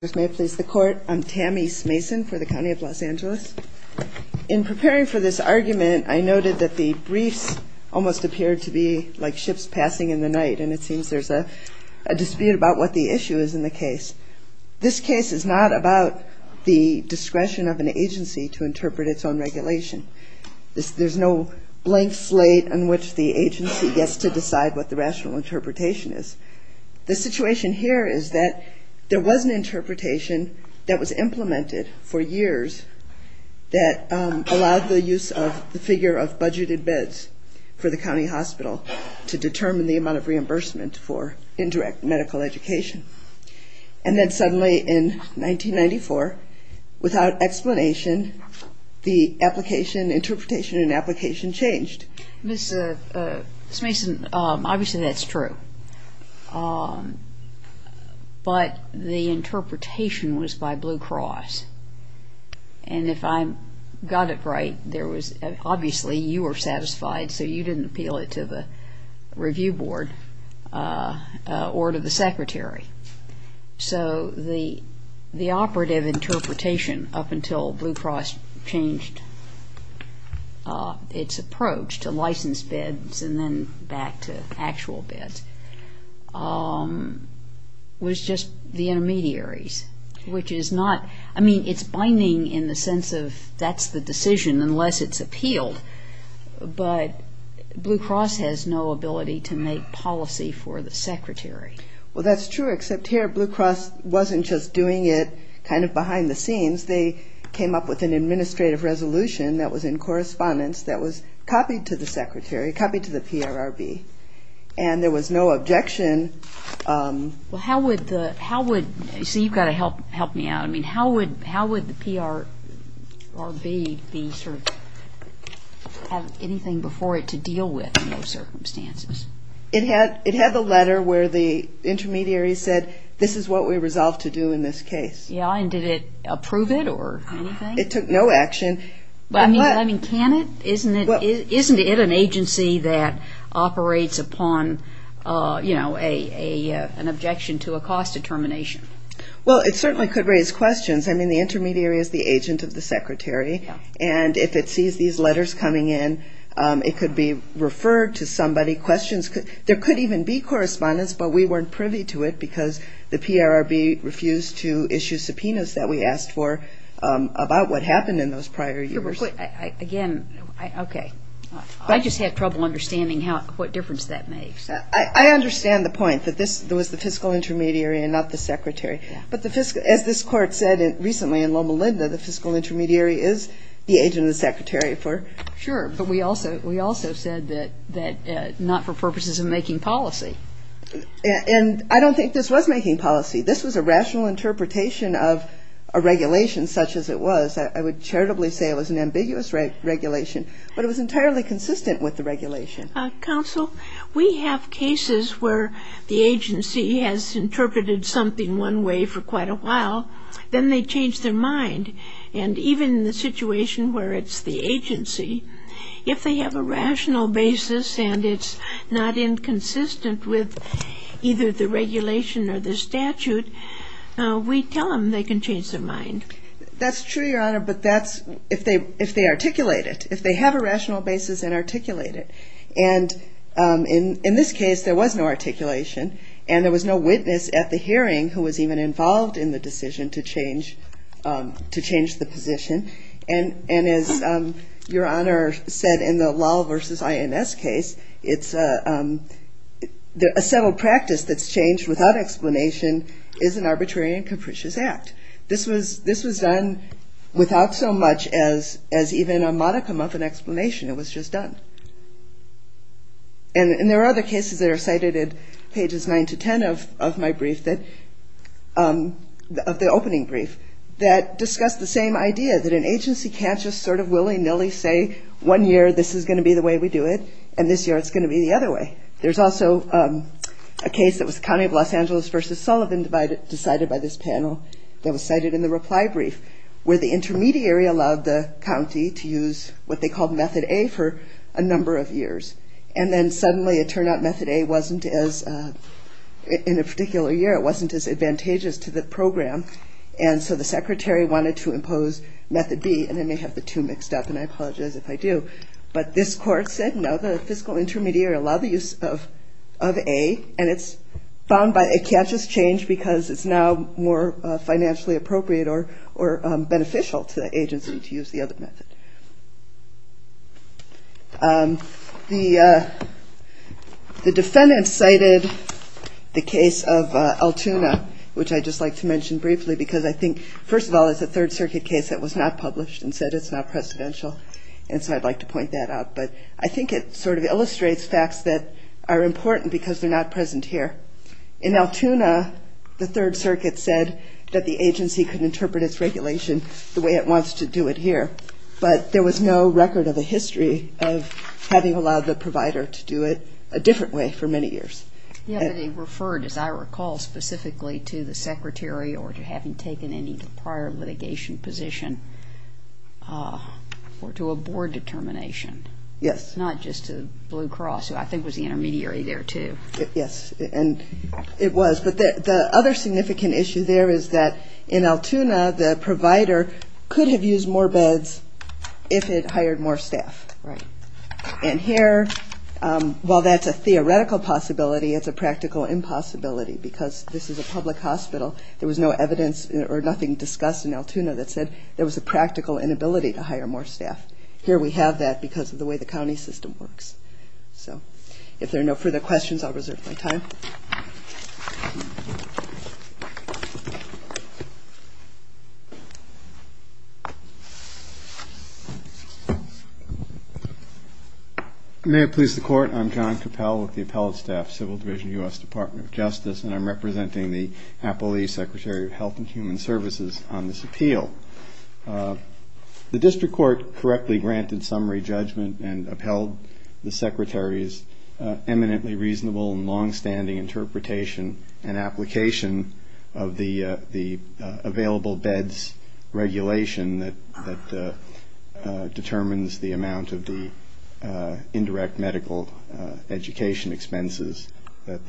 I'm Tammy Smason for the County of Los Angeles. In preparing for this argument, I noted that the briefs almost appeared to be like ships passing in the night, and it seems there's a dispute about what the issue is in the case. This case is not about the discretion of an agency to interpret its own regulation. There's no blank slate on which the agency gets to decide what the rational interpretation is. The situation here is that there was an interpretation of the briefs, but there wasn't an interpretation of the briefs. And I think that's what we need to do. There was an interpretation that was implemented for years that allowed the use of the figure of budgeted beds for the county hospital to determine the amount of reimbursement for indirect medical education. And then suddenly in 1994, without explanation, the application, interpretation and application changed. Ms. Smason, obviously that's true. But the interpretation was by Blue Cross. And if I got it right, obviously you were satisfied, so you didn't appeal it to the review board or to the secretary. So the operative interpretation up until Blue Cross changed its approach to license beds and then back to actual beds was just the intermediaries, which is not, I mean, it's binding in the sense of that's the decision unless it's appealed. But Blue Cross has no ability to make policy for the secretary. Well, that's true, except here Blue Cross wasn't just doing it kind of behind the scenes. They came up with an administrative resolution that was in correspondence that was copied to the secretary, copied to the PRRB. And there was no objection. Well, how would the PRRB have anything before it to deal with in those circumstances? It had the letter where the intermediaries said, this is what we resolve to do in this case. Yeah, and did it approve it or anything? It took no action. I mean, can it? Isn't it an agency that operates upon, you know, an objection to a cost determination? Well, it certainly could raise questions. I mean, the intermediary is the agent of the secretary. And if it sees these letters coming in, it could be referred to somebody. Questions could, there could even be correspondence, but we weren't privy to it because the PRRB refused to issue subpoenas that we asked for about what happened in those prior years. Again, okay. I just had trouble understanding what difference that makes. I understand the point that this was the fiscal intermediary and not the secretary. But as this Court said recently in Loma Linda, the fiscal intermediary is the agent of the secretary for. Sure, but we also said that not for purposes of making policy. And I don't think this was making policy. This was a rational interpretation of a regulation such as it was. I would charitably say it was an ambiguous regulation, but it was entirely consistent with the regulation. Counsel, we have cases where the agency has interpreted something one way for quite a while. Then they change their mind. And even in the situation where it's the agency, if they have a rational basis and it's not inconsistent with either the regulation or the statute, we tell them they can change their mind. That's true, Your Honor, but that's if they articulate it, if they have a rational basis and articulate it. And in this case, there was no articulation and there was no witness at the hearing who was even involved in the decision to change the position. And as Your Honor said in the law versus INS case, it's a settled practice that's changed without explanation is an arbitrary and capricious act. This was done without so much as even a modicum of an explanation. It was just done. And there are other cases that are cited at pages 9 to 10 of my brief, of the opening brief, that discuss the same idea, that an agency can't just sort of willy-nilly say one year this is going to be the way we do it and this year it's going to be the other way. There's also a case that was the county of Los Angeles versus Sullivan decided by this panel that was cited in the reply brief where the intermediary allowed the county to use what they called method A for a response. A number of years. And then suddenly it turned out method A wasn't as, in a particular year, it wasn't as advantageous to the program and so the secretary wanted to impose method B and I may have the two mixed up and I apologize if I do. But this court said no, the fiscal intermediary allowed the use of A and it's found by, it can't just change because it's now more financially appropriate or beneficial to the agency to use the other method. The defendant cited the case of Altoona, which I'd just like to mention briefly because I think, first of all, it's a Third Circuit case that was not published and said it's not presidential and so I'd like to point that out. But I think it sort of illustrates facts that are important because they're not present here. In Altoona, the Third Circuit said that the agency could interpret its regulation the way it wants to do it here. But there was no record of a history of having allowed the provider to do it a different way for many years. Yeah, but it referred, as I recall, specifically to the secretary or to having taken any prior litigation position or to a board determination. Yes. Not just to Blue Cross, who I think was the intermediary there, too. Yes, and it was. But the other significant issue there is that in Altoona, the provider could have used more beds if it hired more staff. Right. And here, while that's a theoretical possibility, it's a practical impossibility because this is a public hospital. There was no evidence or nothing discussed in Altoona that said there was a practical inability to hire more staff. Here we have that because of the way the county system works. So if there are no further questions, I'll reserve my time. May it please the Court, I'm John Cappell with the Appellate Staff Civil Division, U.S. Department of Justice, and I'm representing the Appellee Secretary of Health and Human Services on this appeal. The district court correctly granted summary judgment and upheld the secretary's eminently reasonable and longstanding interpretation and application of the available beds regulation that determines the amount of the indirect medical education expenses that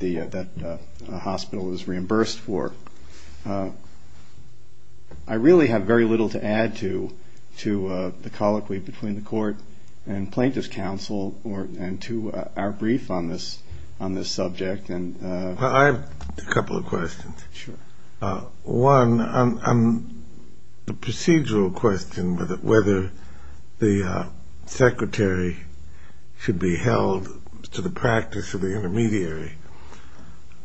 a hospital is reimbursed for. I really have very little to add to the colloquy between the court and plaintiff's counsel and to our brief on this subject. I have a couple of questions. Sure. One, a procedural question, whether the secretary should be held to the practice of the intermediary.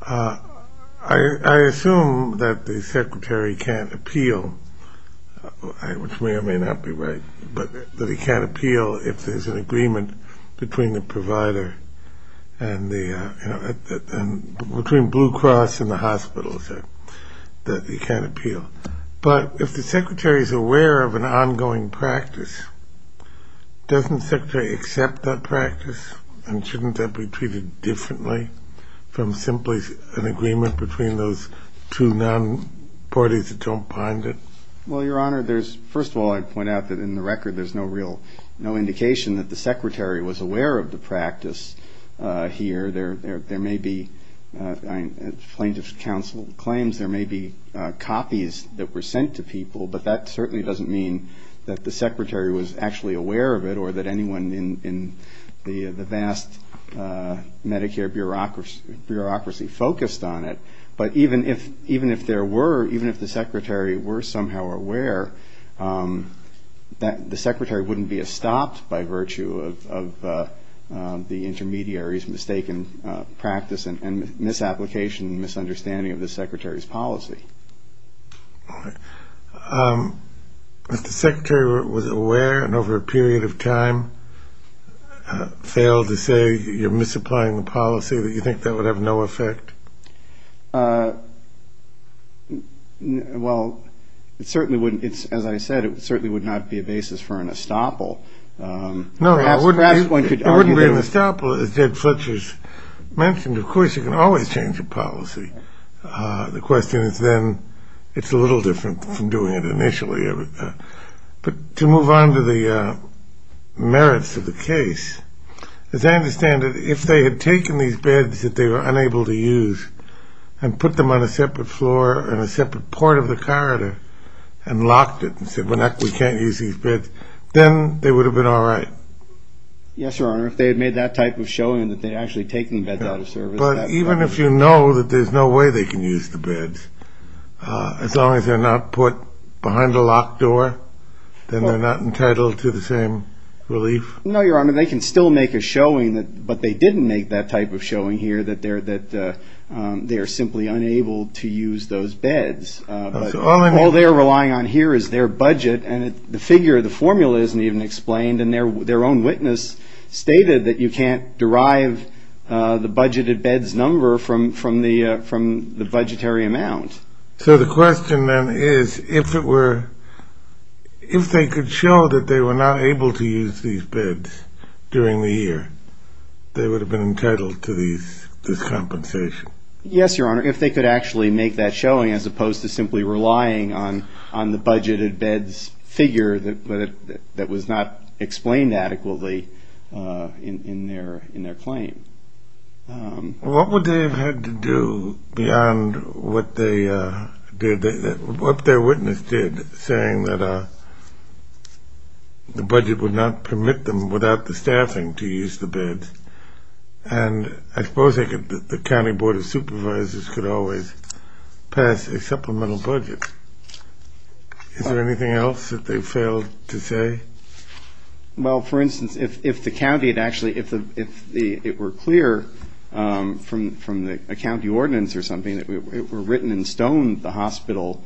I assume that the secretary can't appeal, which may or may not be right, but that he can't appeal if there's an agreement between the provider and the, you know, between Blue Cross and the hospitals that he can't appeal. But if the secretary's aware of an ongoing practice, doesn't the secretary accept that practice and shouldn't that be treated differently from simply an agreement between those two non-parties that don't bind it? Well, Your Honor, there's, first of all, I'd point out that in the record there's no real, no indication that the secretary was aware of the practice here. There may be, plaintiff's counsel claims there may be copies that were sent to people, but that certainly doesn't mean that the secretary was actually aware of it or that anyone in the vast Medicare bureaucracy focused on it. But even if there were, even if the secretary were somehow aware, the secretary wouldn't be estopped by virtue of the intermediary's mistaken practice. And misapplication and misunderstanding of the secretary's policy. If the secretary was aware and over a period of time failed to say you're misapplying the policy, do you think that would have no effect? Well, it certainly wouldn't, as I said, it certainly would not be a basis for an estoppel. No, it wouldn't be an estoppel, as Ted Fletcher's mentioned. Of course, you can always change a policy. The question is then, it's a little different from doing it initially. But to move on to the merits of the case, as I understand it, if they had taken these beds that they were unable to use and put them on a separate floor in a separate part of the corridor and locked it and said, well, we can't use these beds, then they would have been all right. Yes, Your Honor, if they had made that type of showing that they'd actually taken the beds out of service. But even if you know that there's no way they can use the beds, as long as they're not put behind a locked door, then they're not entitled to the same relief? No, Your Honor, they can still make a showing, but they didn't make that type of showing here that they are simply unable to use those beds. All they're relying on here is their budget, and the figure, the formula isn't even explained, and their own witness stated that you can't derive the budgeted beds number from the budgetary amount. So the question then is, if they could show that they were not able to use these beds during the year, they would have been entitled to this compensation? Yes, Your Honor, if they could actually make that showing as opposed to simply relying on the budgeted beds figure that was not explained adequately in their claim. What would they have had to do beyond what their witness did, saying that the budget would not permit them without the staffing to use the beds? And I suppose the County Board of Supervisors could always pass a supplemental budget. Is there anything else that they failed to say? Well, for instance, if it were clear from a county ordinance or something that it were written in stone, the hospital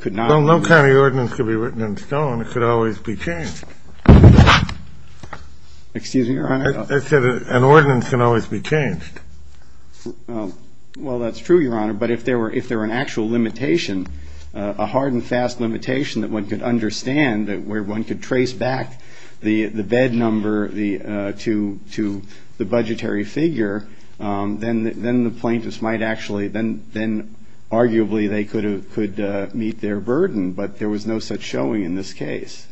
could not... Well, no county ordinance could be written in stone. It could always be changed. Excuse me, Your Honor? I said an ordinance can always be changed. Well, that's true, Your Honor, but if there were an actual limitation, a hard and fast limitation that one could understand, where one could trace back the bed number to the budgetary figure, then the plaintiffs might actually, then arguably they could meet their burden, but there was no such showing in this case.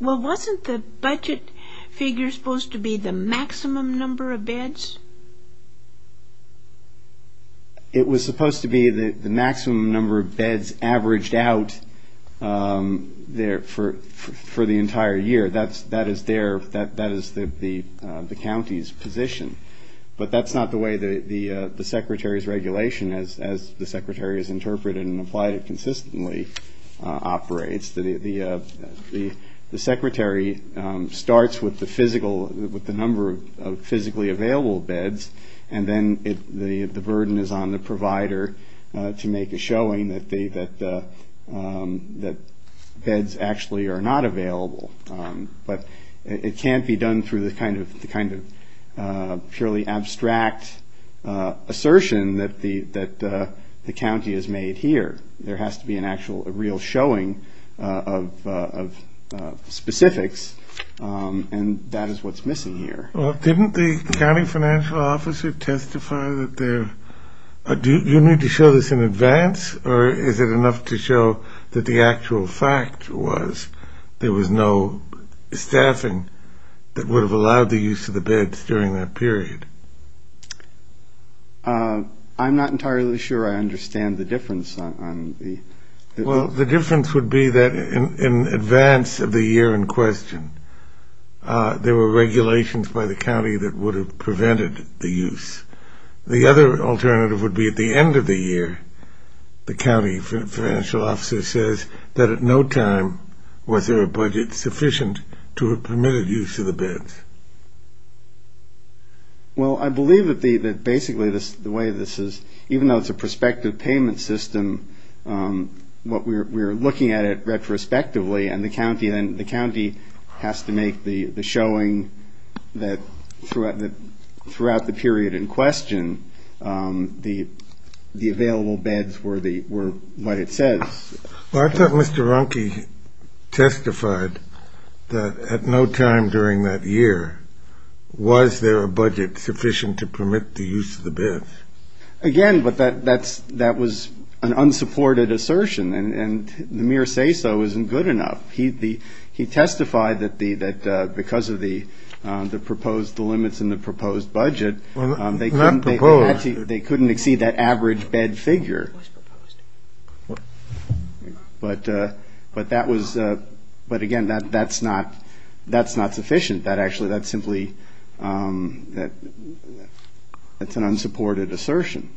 Well, wasn't the budget figure supposed to be the maximum number of beds? It was supposed to be the maximum number of beds averaged out for the entire year. That is the county's position. But that's not the way the Secretary's regulation, as the Secretary has interpreted and applied it consistently, operates. The Secretary starts with the number of physically available beds, and then the burden is on the provider to make a showing that beds actually are not available. But it can't be done through the kind of purely abstract assertion that the county has made here. There has to be an actual, a real showing of specifics, and that is what's missing here. Well, didn't the county financial officer testify that there... Do you need to show this in advance, or is it enough to show that the actual fact was there was no staffing that would have allowed the use of the beds during that period? I'm not entirely sure I understand the difference on the... Well, the difference would be that in advance of the year in question, there were regulations by the county that would have prevented the use. The other alternative would be at the end of the year, the county financial officer says that at no time was there a budget sufficient to have permitted use of the beds. Well, I believe that basically the way this is, even though it's a prospective payment system, what we're looking at it retrospectively, and the county has to make the showing that throughout the period in question, the available beds were what it says. Well, I thought Mr. Runke testified that at no time during that year was there a budget sufficient to permit the use of the beds. Again, but that was an unsupported assertion, and the mere say-so isn't good enough. He testified that because of the proposed limits and the proposed budget... Well, not proposed. They couldn't exceed that average bed figure. But again, that's not sufficient. That's an unsupported assertion.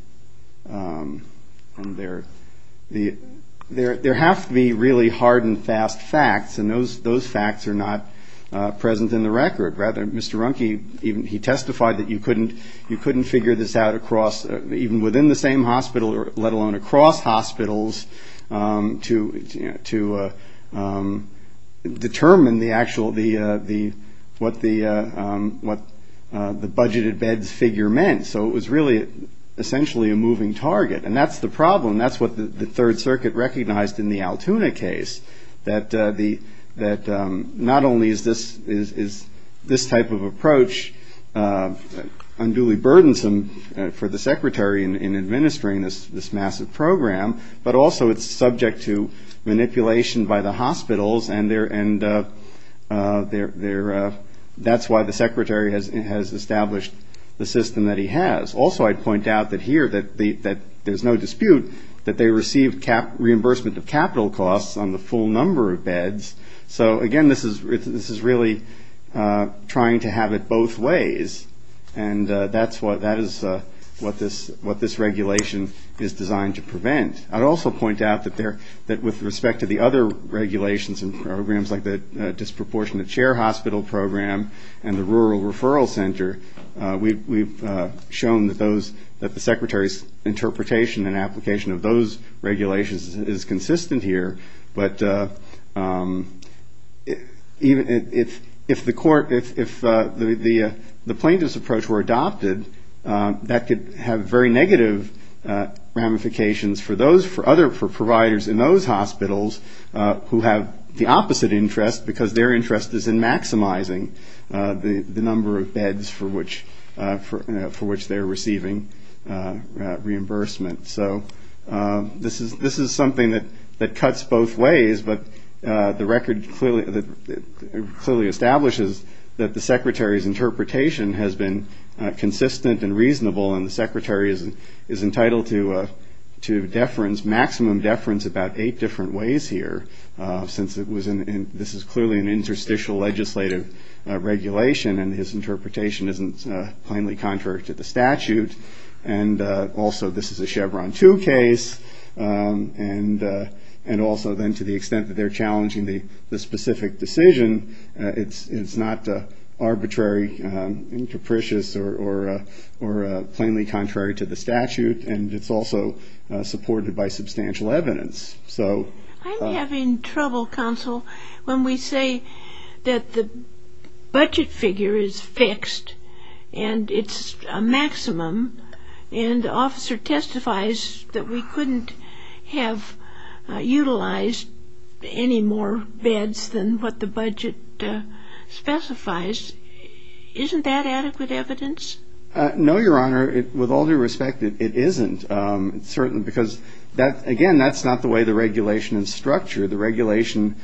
There have to be really hard and fast facts, and those facts are not present in the record. Rather, Mr. Runke, he testified that you couldn't figure this out across, even within the same hospital, let alone across hospitals, to determine the actual, what the budgeted beds figure meant. So it was really essentially a moving target, and that's the problem. That's what the Third Circuit recognized in the Altoona case. This type of approach, unduly burdensome for the Secretary in administering this massive program. But also it's subject to manipulation by the hospitals, and that's why the Secretary has established the system that he has. Also, I'd point out that here that there's no dispute that they received reimbursement of capital costs on the full number of beds. So again, this is really trying to have it both ways. And that is what this regulation is designed to prevent. I'd also point out that with respect to the other regulations and programs, like the disproportionate chair hospital program and the rural referral center, we've shown that the Secretary's interpretation and application of those regulations is consistent here. But even if the court, if the plaintiff's approach were adopted, that could have very negative ramifications for those, for other providers in those hospitals who have the opposite interest, because their interest is in maximizing the number of beds for which they're receiving reimbursement. So this is something that cuts both ways, but the record clearly establishes that the Secretary's interpretation has been consistent and reasonable, and the Secretary is entitled to deference, maximum deference, about eight different ways here, since this is clearly an interstitial legislative regulation, and his interpretation isn't plainly contrary to the statute. And also, this is a Chevron 2 case, and also then to the extent that they're challenging the specific decision, it's not arbitrary and capricious or plainly contrary to the statute, and it's also supported by substantial evidence. So... And the officer testifies that we couldn't have utilized any more beds than what the budget specifies. Isn't that adequate evidence? No, Your Honor, with all due respect, it isn't, certainly, because, again, that's not the way the regulation is structured. The regulation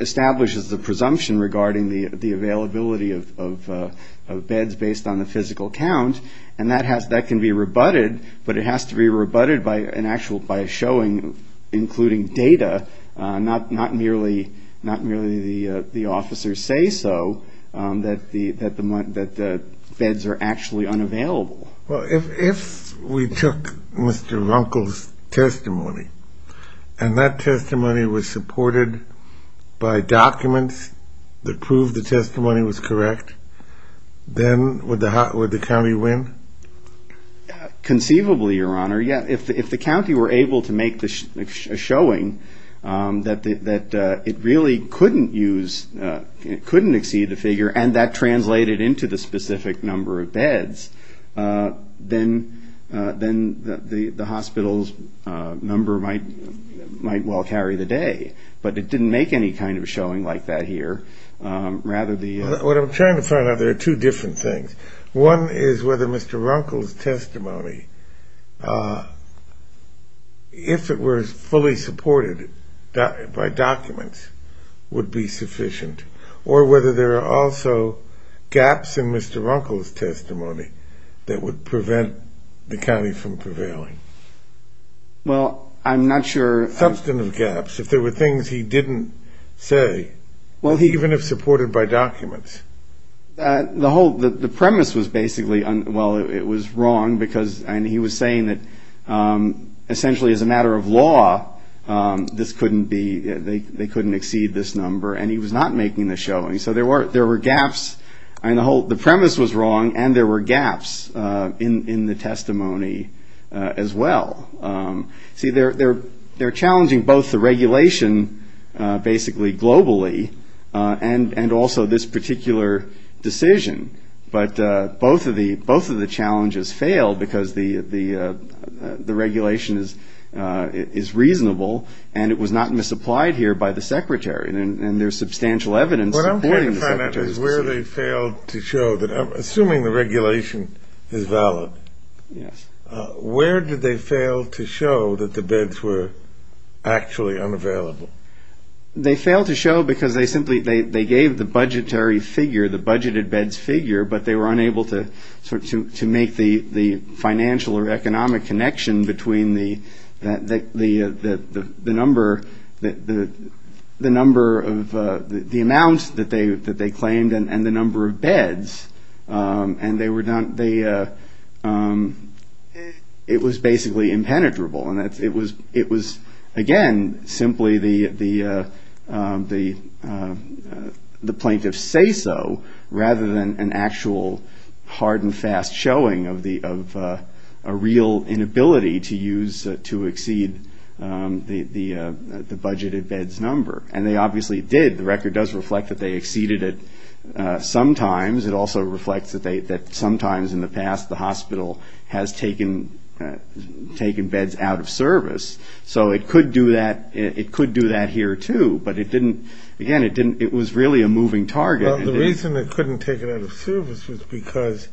establishes the presumption regarding the availability of beds based on the physical count. And that can be rebutted, but it has to be rebutted by a showing, including data, not merely the officers say so, that the beds are actually unavailable. Well, if we took Mr. Runkle's testimony, and that testimony was supported by documents that proved the testimony was correct, then would the county be able to use that evidence? Conceivably, Your Honor, yes. If the county were able to make a showing that it really couldn't use, couldn't exceed the figure, and that translated into the specific number of beds, then the hospital's number might well carry the day. But it didn't make any kind of showing like that here. Well, what I'm trying to find out, there are two different things. One is whether Mr. Runkle's testimony, if it were fully supported by documents, would be sufficient, or whether there are also gaps in Mr. Runkle's testimony that would prevent the county from prevailing. Well, I'm not sure. Substantive gaps, if there were things he didn't say, even if supported by documents. The whole, the premise was basically, well, it was wrong, because, and he was saying that essentially as a matter of law, this couldn't be, they couldn't exceed this number, and he was not making the showing. So there were gaps, and the premise was wrong, and there were gaps in the testimony as well. See, they're challenging both the regulation, basically globally, and also this particular decision, but both of the challenges failed, because the regulation is reasonable, and it was not misapplied here by the secretary, and there's substantial evidence supporting the secretary's decision. What I'm trying to find out is where they failed to show that, assuming the regulation is valid, where did they fail to show that? Where did they fail to show that the beds were actually unavailable? They failed to show, because they simply, they gave the budgetary figure, the budgeted beds figure, but they were unable to make the financial or economic connection between the number of, the amount that they claimed and the number of beds, and they were not, it was basically the same. It was basically impenetrable, and it was, again, simply the plaintiff's say-so, rather than an actual hard and fast showing of a real inability to use, to exceed the budgeted beds number, and they obviously did. The record does reflect that they exceeded it sometimes. It also reflects that sometimes in the past the hospital has taken beds out of service, so it could do that here, too, but it didn't, again, it was really a moving target. Well, the reason they couldn't take it out of service was because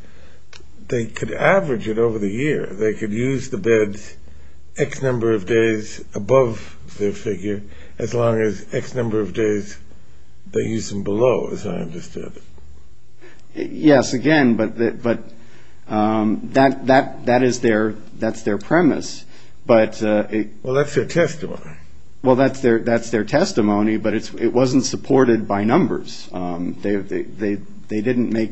they could average it over the year. They could use the beds X number of days above their figure, as long as X number of days they used them below, as I understand it. Yes, again, but that is their premise. Well, that's their testimony. Well, that's their testimony, but it wasn't supported by numbers. They didn't make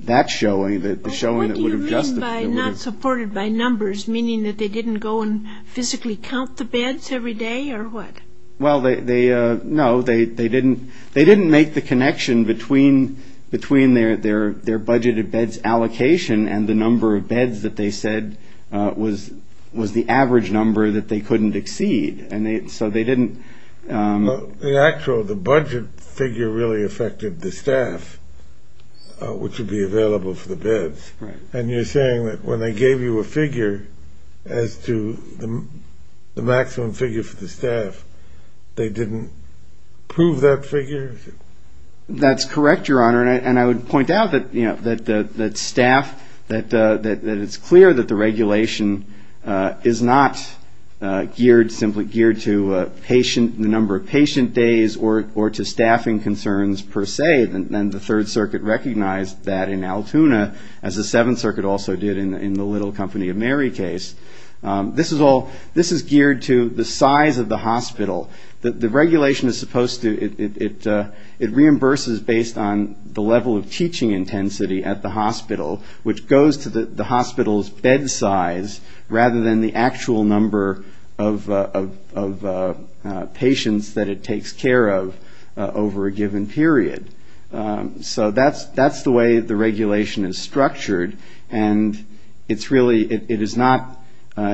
that showing, the showing that would have justified it. What do you mean by not supported by numbers, meaning that they didn't go and physically count the beds every day, or what? Well, that was their budgeted beds allocation, and the number of beds that they said was the average number that they couldn't exceed, and so they didn't... Well, the actual, the budget figure really affected the staff, which would be available for the beds. And you're saying that when they gave you a figure as to the maximum figure for the staff, they didn't prove that figure? That's correct, Your Honor, and I would point out that staff, that it's clear that the regulation is not geared, simply geared to patient, the number of patient days, or to staffing concerns, per se, than the Third Circuit recognized that in Altoona, as the Seventh Circuit also did in the Little Company of Mary case. This is geared to the size of the hospital. It reimburses based on the level of teaching intensity at the hospital, which goes to the hospital's bed size, rather than the actual number of patients that it takes care of over a given period. So that's the way the regulation is structured, and it's really, it is not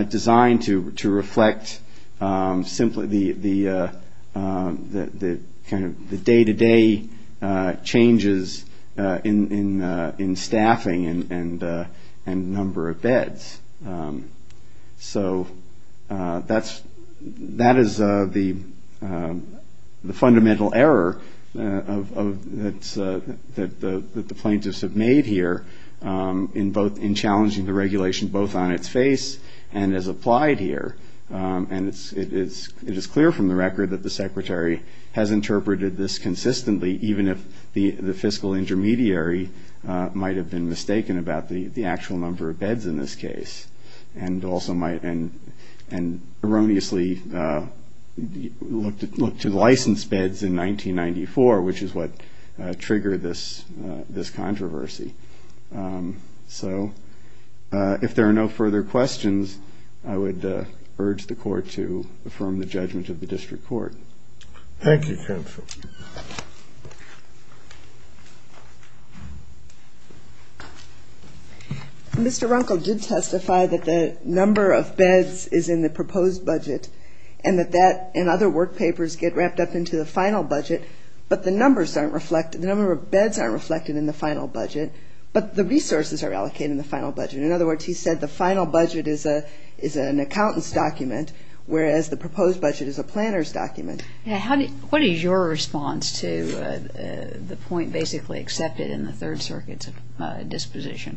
designed to reflect simply the kind of the day-to-day life of the hospital. Day-to-day changes in staffing and number of beds. So that is the fundamental error that the plaintiffs have made here, in challenging the regulation, both on its face and as applied here. And it is clear from the record that the Secretary has interpreted this consistently, even if the fiscal intermediary might have been mistaken about the actual number of beds in this case, and also might, and erroneously looked to license beds in 1994, which is what triggered this controversy. So if there are no further questions, I would urge the Court to affirm the judgment of the District Court. Thank you, counsel. Mr. Runkle did testify that the number of beds is in the proposed budget, and that that and other work papers get wrapped up into the final budget, but the number of beds aren't reflected in the final budget. But the resources are allocated in the final budget. In other words, he said the final budget is an accountant's document, whereas the proposed budget is a planner's document. What is your response to the point basically accepted in the Third Circuit's disposition,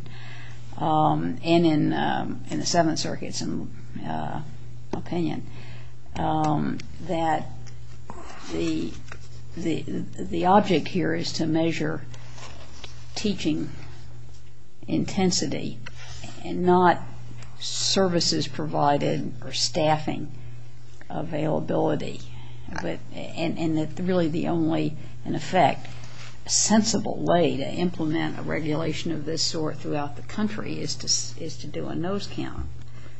and in the Seventh Circuit's opinion, that the object here is to measure teaching, education, and education. And not services provided or staffing availability. And that really the only, in effect, sensible way to implement a regulation of this sort throughout the country is to do a nose count.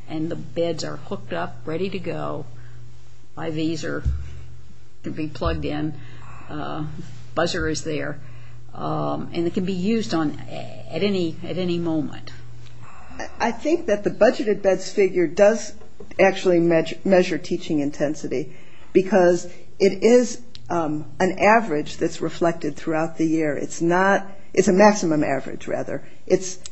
And the beds are hooked up, ready to go. IVs can be plugged in. Buzzer is there. And it can be used at any moment. I think that the budgeted beds figure does actually measure teaching intensity, because it is an average that's reflected throughout the year. It's a maximum average, rather.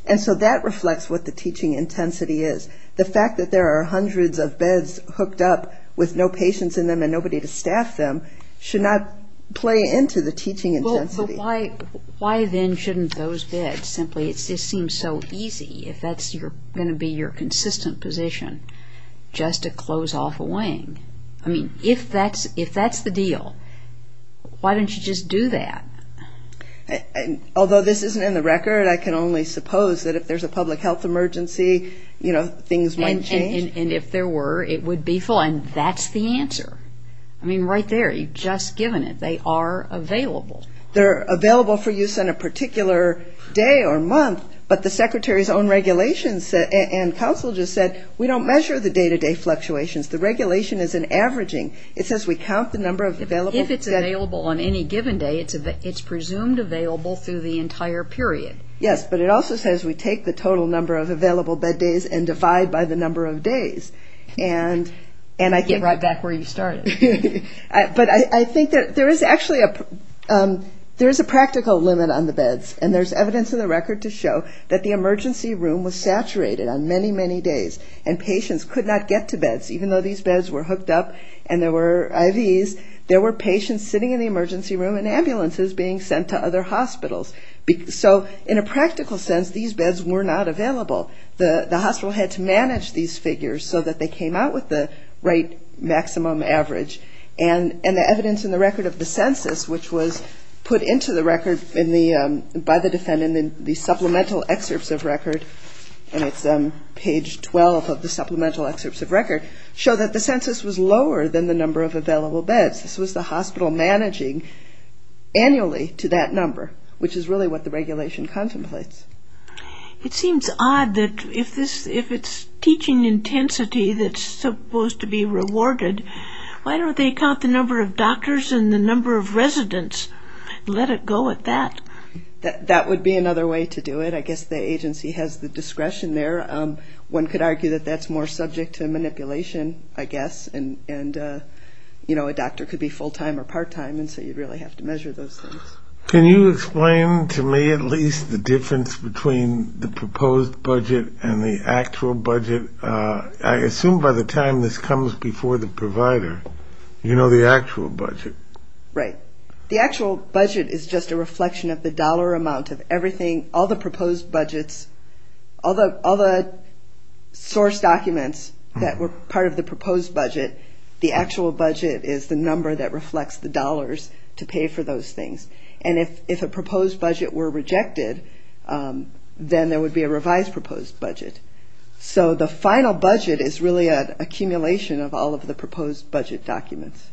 And so that reflects what the teaching intensity is. The fact that there are hundreds of beds hooked up with no patients in them and nobody to staff them should not play into the teaching intensity. Well, but why then shouldn't those beds simply, it just seems so easy, if that's going to be your consistent position, just to close off a wing. I mean, if that's the deal, why don't you just do that? Although this isn't in the record, I can only suppose that if there's a public health emergency, you know, to close off a wing. Things might change. And if there were, it would be full, and that's the answer. I mean, right there, you've just given it. They are available. They're available for use on a particular day or month, but the secretary's own regulations and council just said, we don't measure the day-to-day fluctuations. The regulation is an averaging. It says we count the number of available. If it's available on any given day, it's presumed available through the entire period. Yes, but it also says we take the total number of available bed days and divide by the number of days. Get right back where you started. But I think there is actually a practical limit on the beds, and there's evidence in the record to show that the emergency room was saturated on many, many days, and patients could not get to beds. Even though these beds were hooked up and there were IVs, there were patients sitting in the emergency room and ambulances being sent to other hospitals. So in a practical sense, these beds were not available. The hospital had to manage these figures so that they came out with the right maximum average. And the evidence in the record of the census, which was put into the record by the defendant in the supplemental excerpts of record, and it's page 12 of the supplemental excerpts of record, show that the census was lower than the number of available beds. This was the hospital managing annually to that number, which is really what the regulation contemplates. It seems odd that if it's teaching intensity that's supposed to be rewarded, why don't they count the number of doctors and the number of residents and let it go at that? That would be another way to do it. I guess the agency has the discretion there. One could argue that that's more subject to manipulation, I guess, and a doctor could be full-time or part-time, and so you'd really have to measure those things. So the difference between the proposed budget and the actual budget, I assume by the time this comes before the provider, you know the actual budget. Right. The actual budget is just a reflection of the dollar amount of everything, all the proposed budgets, all the source documents that were part of the proposed budget. The actual budget is the number that reflects the dollars to pay for those things. And if a proposed budget were rejected, then there would be a revised proposed budget. So the final budget is really an accumulation of all of the proposed budget documents.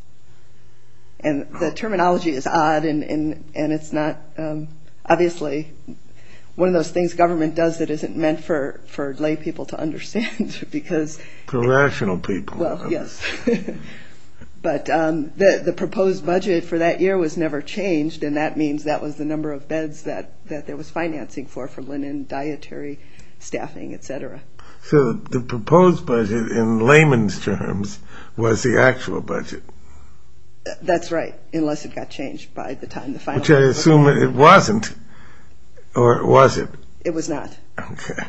And the terminology is odd, and it's not, obviously, one of those things government does that isn't meant for lay people to understand. Correctional people. Well, yes. But the proposed budget for that year was never changed, and that means that was the number of beds that there was financing for, for linen, dietary, staffing, etc. So the proposed budget in layman's terms was the actual budget. That's right, unless it got changed by the time the final budget came. Which I assume it wasn't, or was it? It was not. Okay.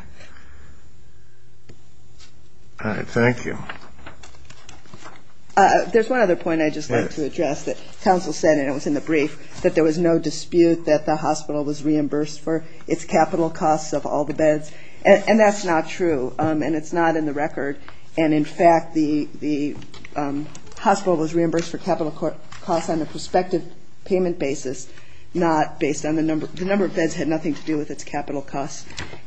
All right. Thank you. There's one other point I'd just like to address that counsel said, and it was in the brief, that there was no dispute that the hospital was reimbursed for its capital costs of all the beds. And that's not true, and it's not in the record. And, in fact, the hospital was reimbursed for capital costs on a prospective payment basis, not based on the number of beds had nothing to do with its capital costs.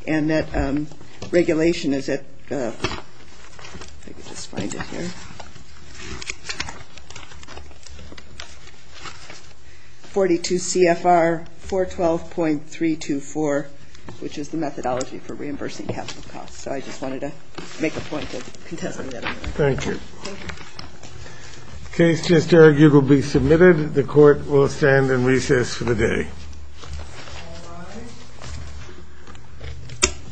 And that regulation is at 42 CFR 412.324, which is the methodology for reimbursing capital costs. So I just wanted to make a point of contesting that. Thank you. Case just argued will be submitted. The court will stand in recess for the day. Thank you. Thank you. Thank you. Thank you.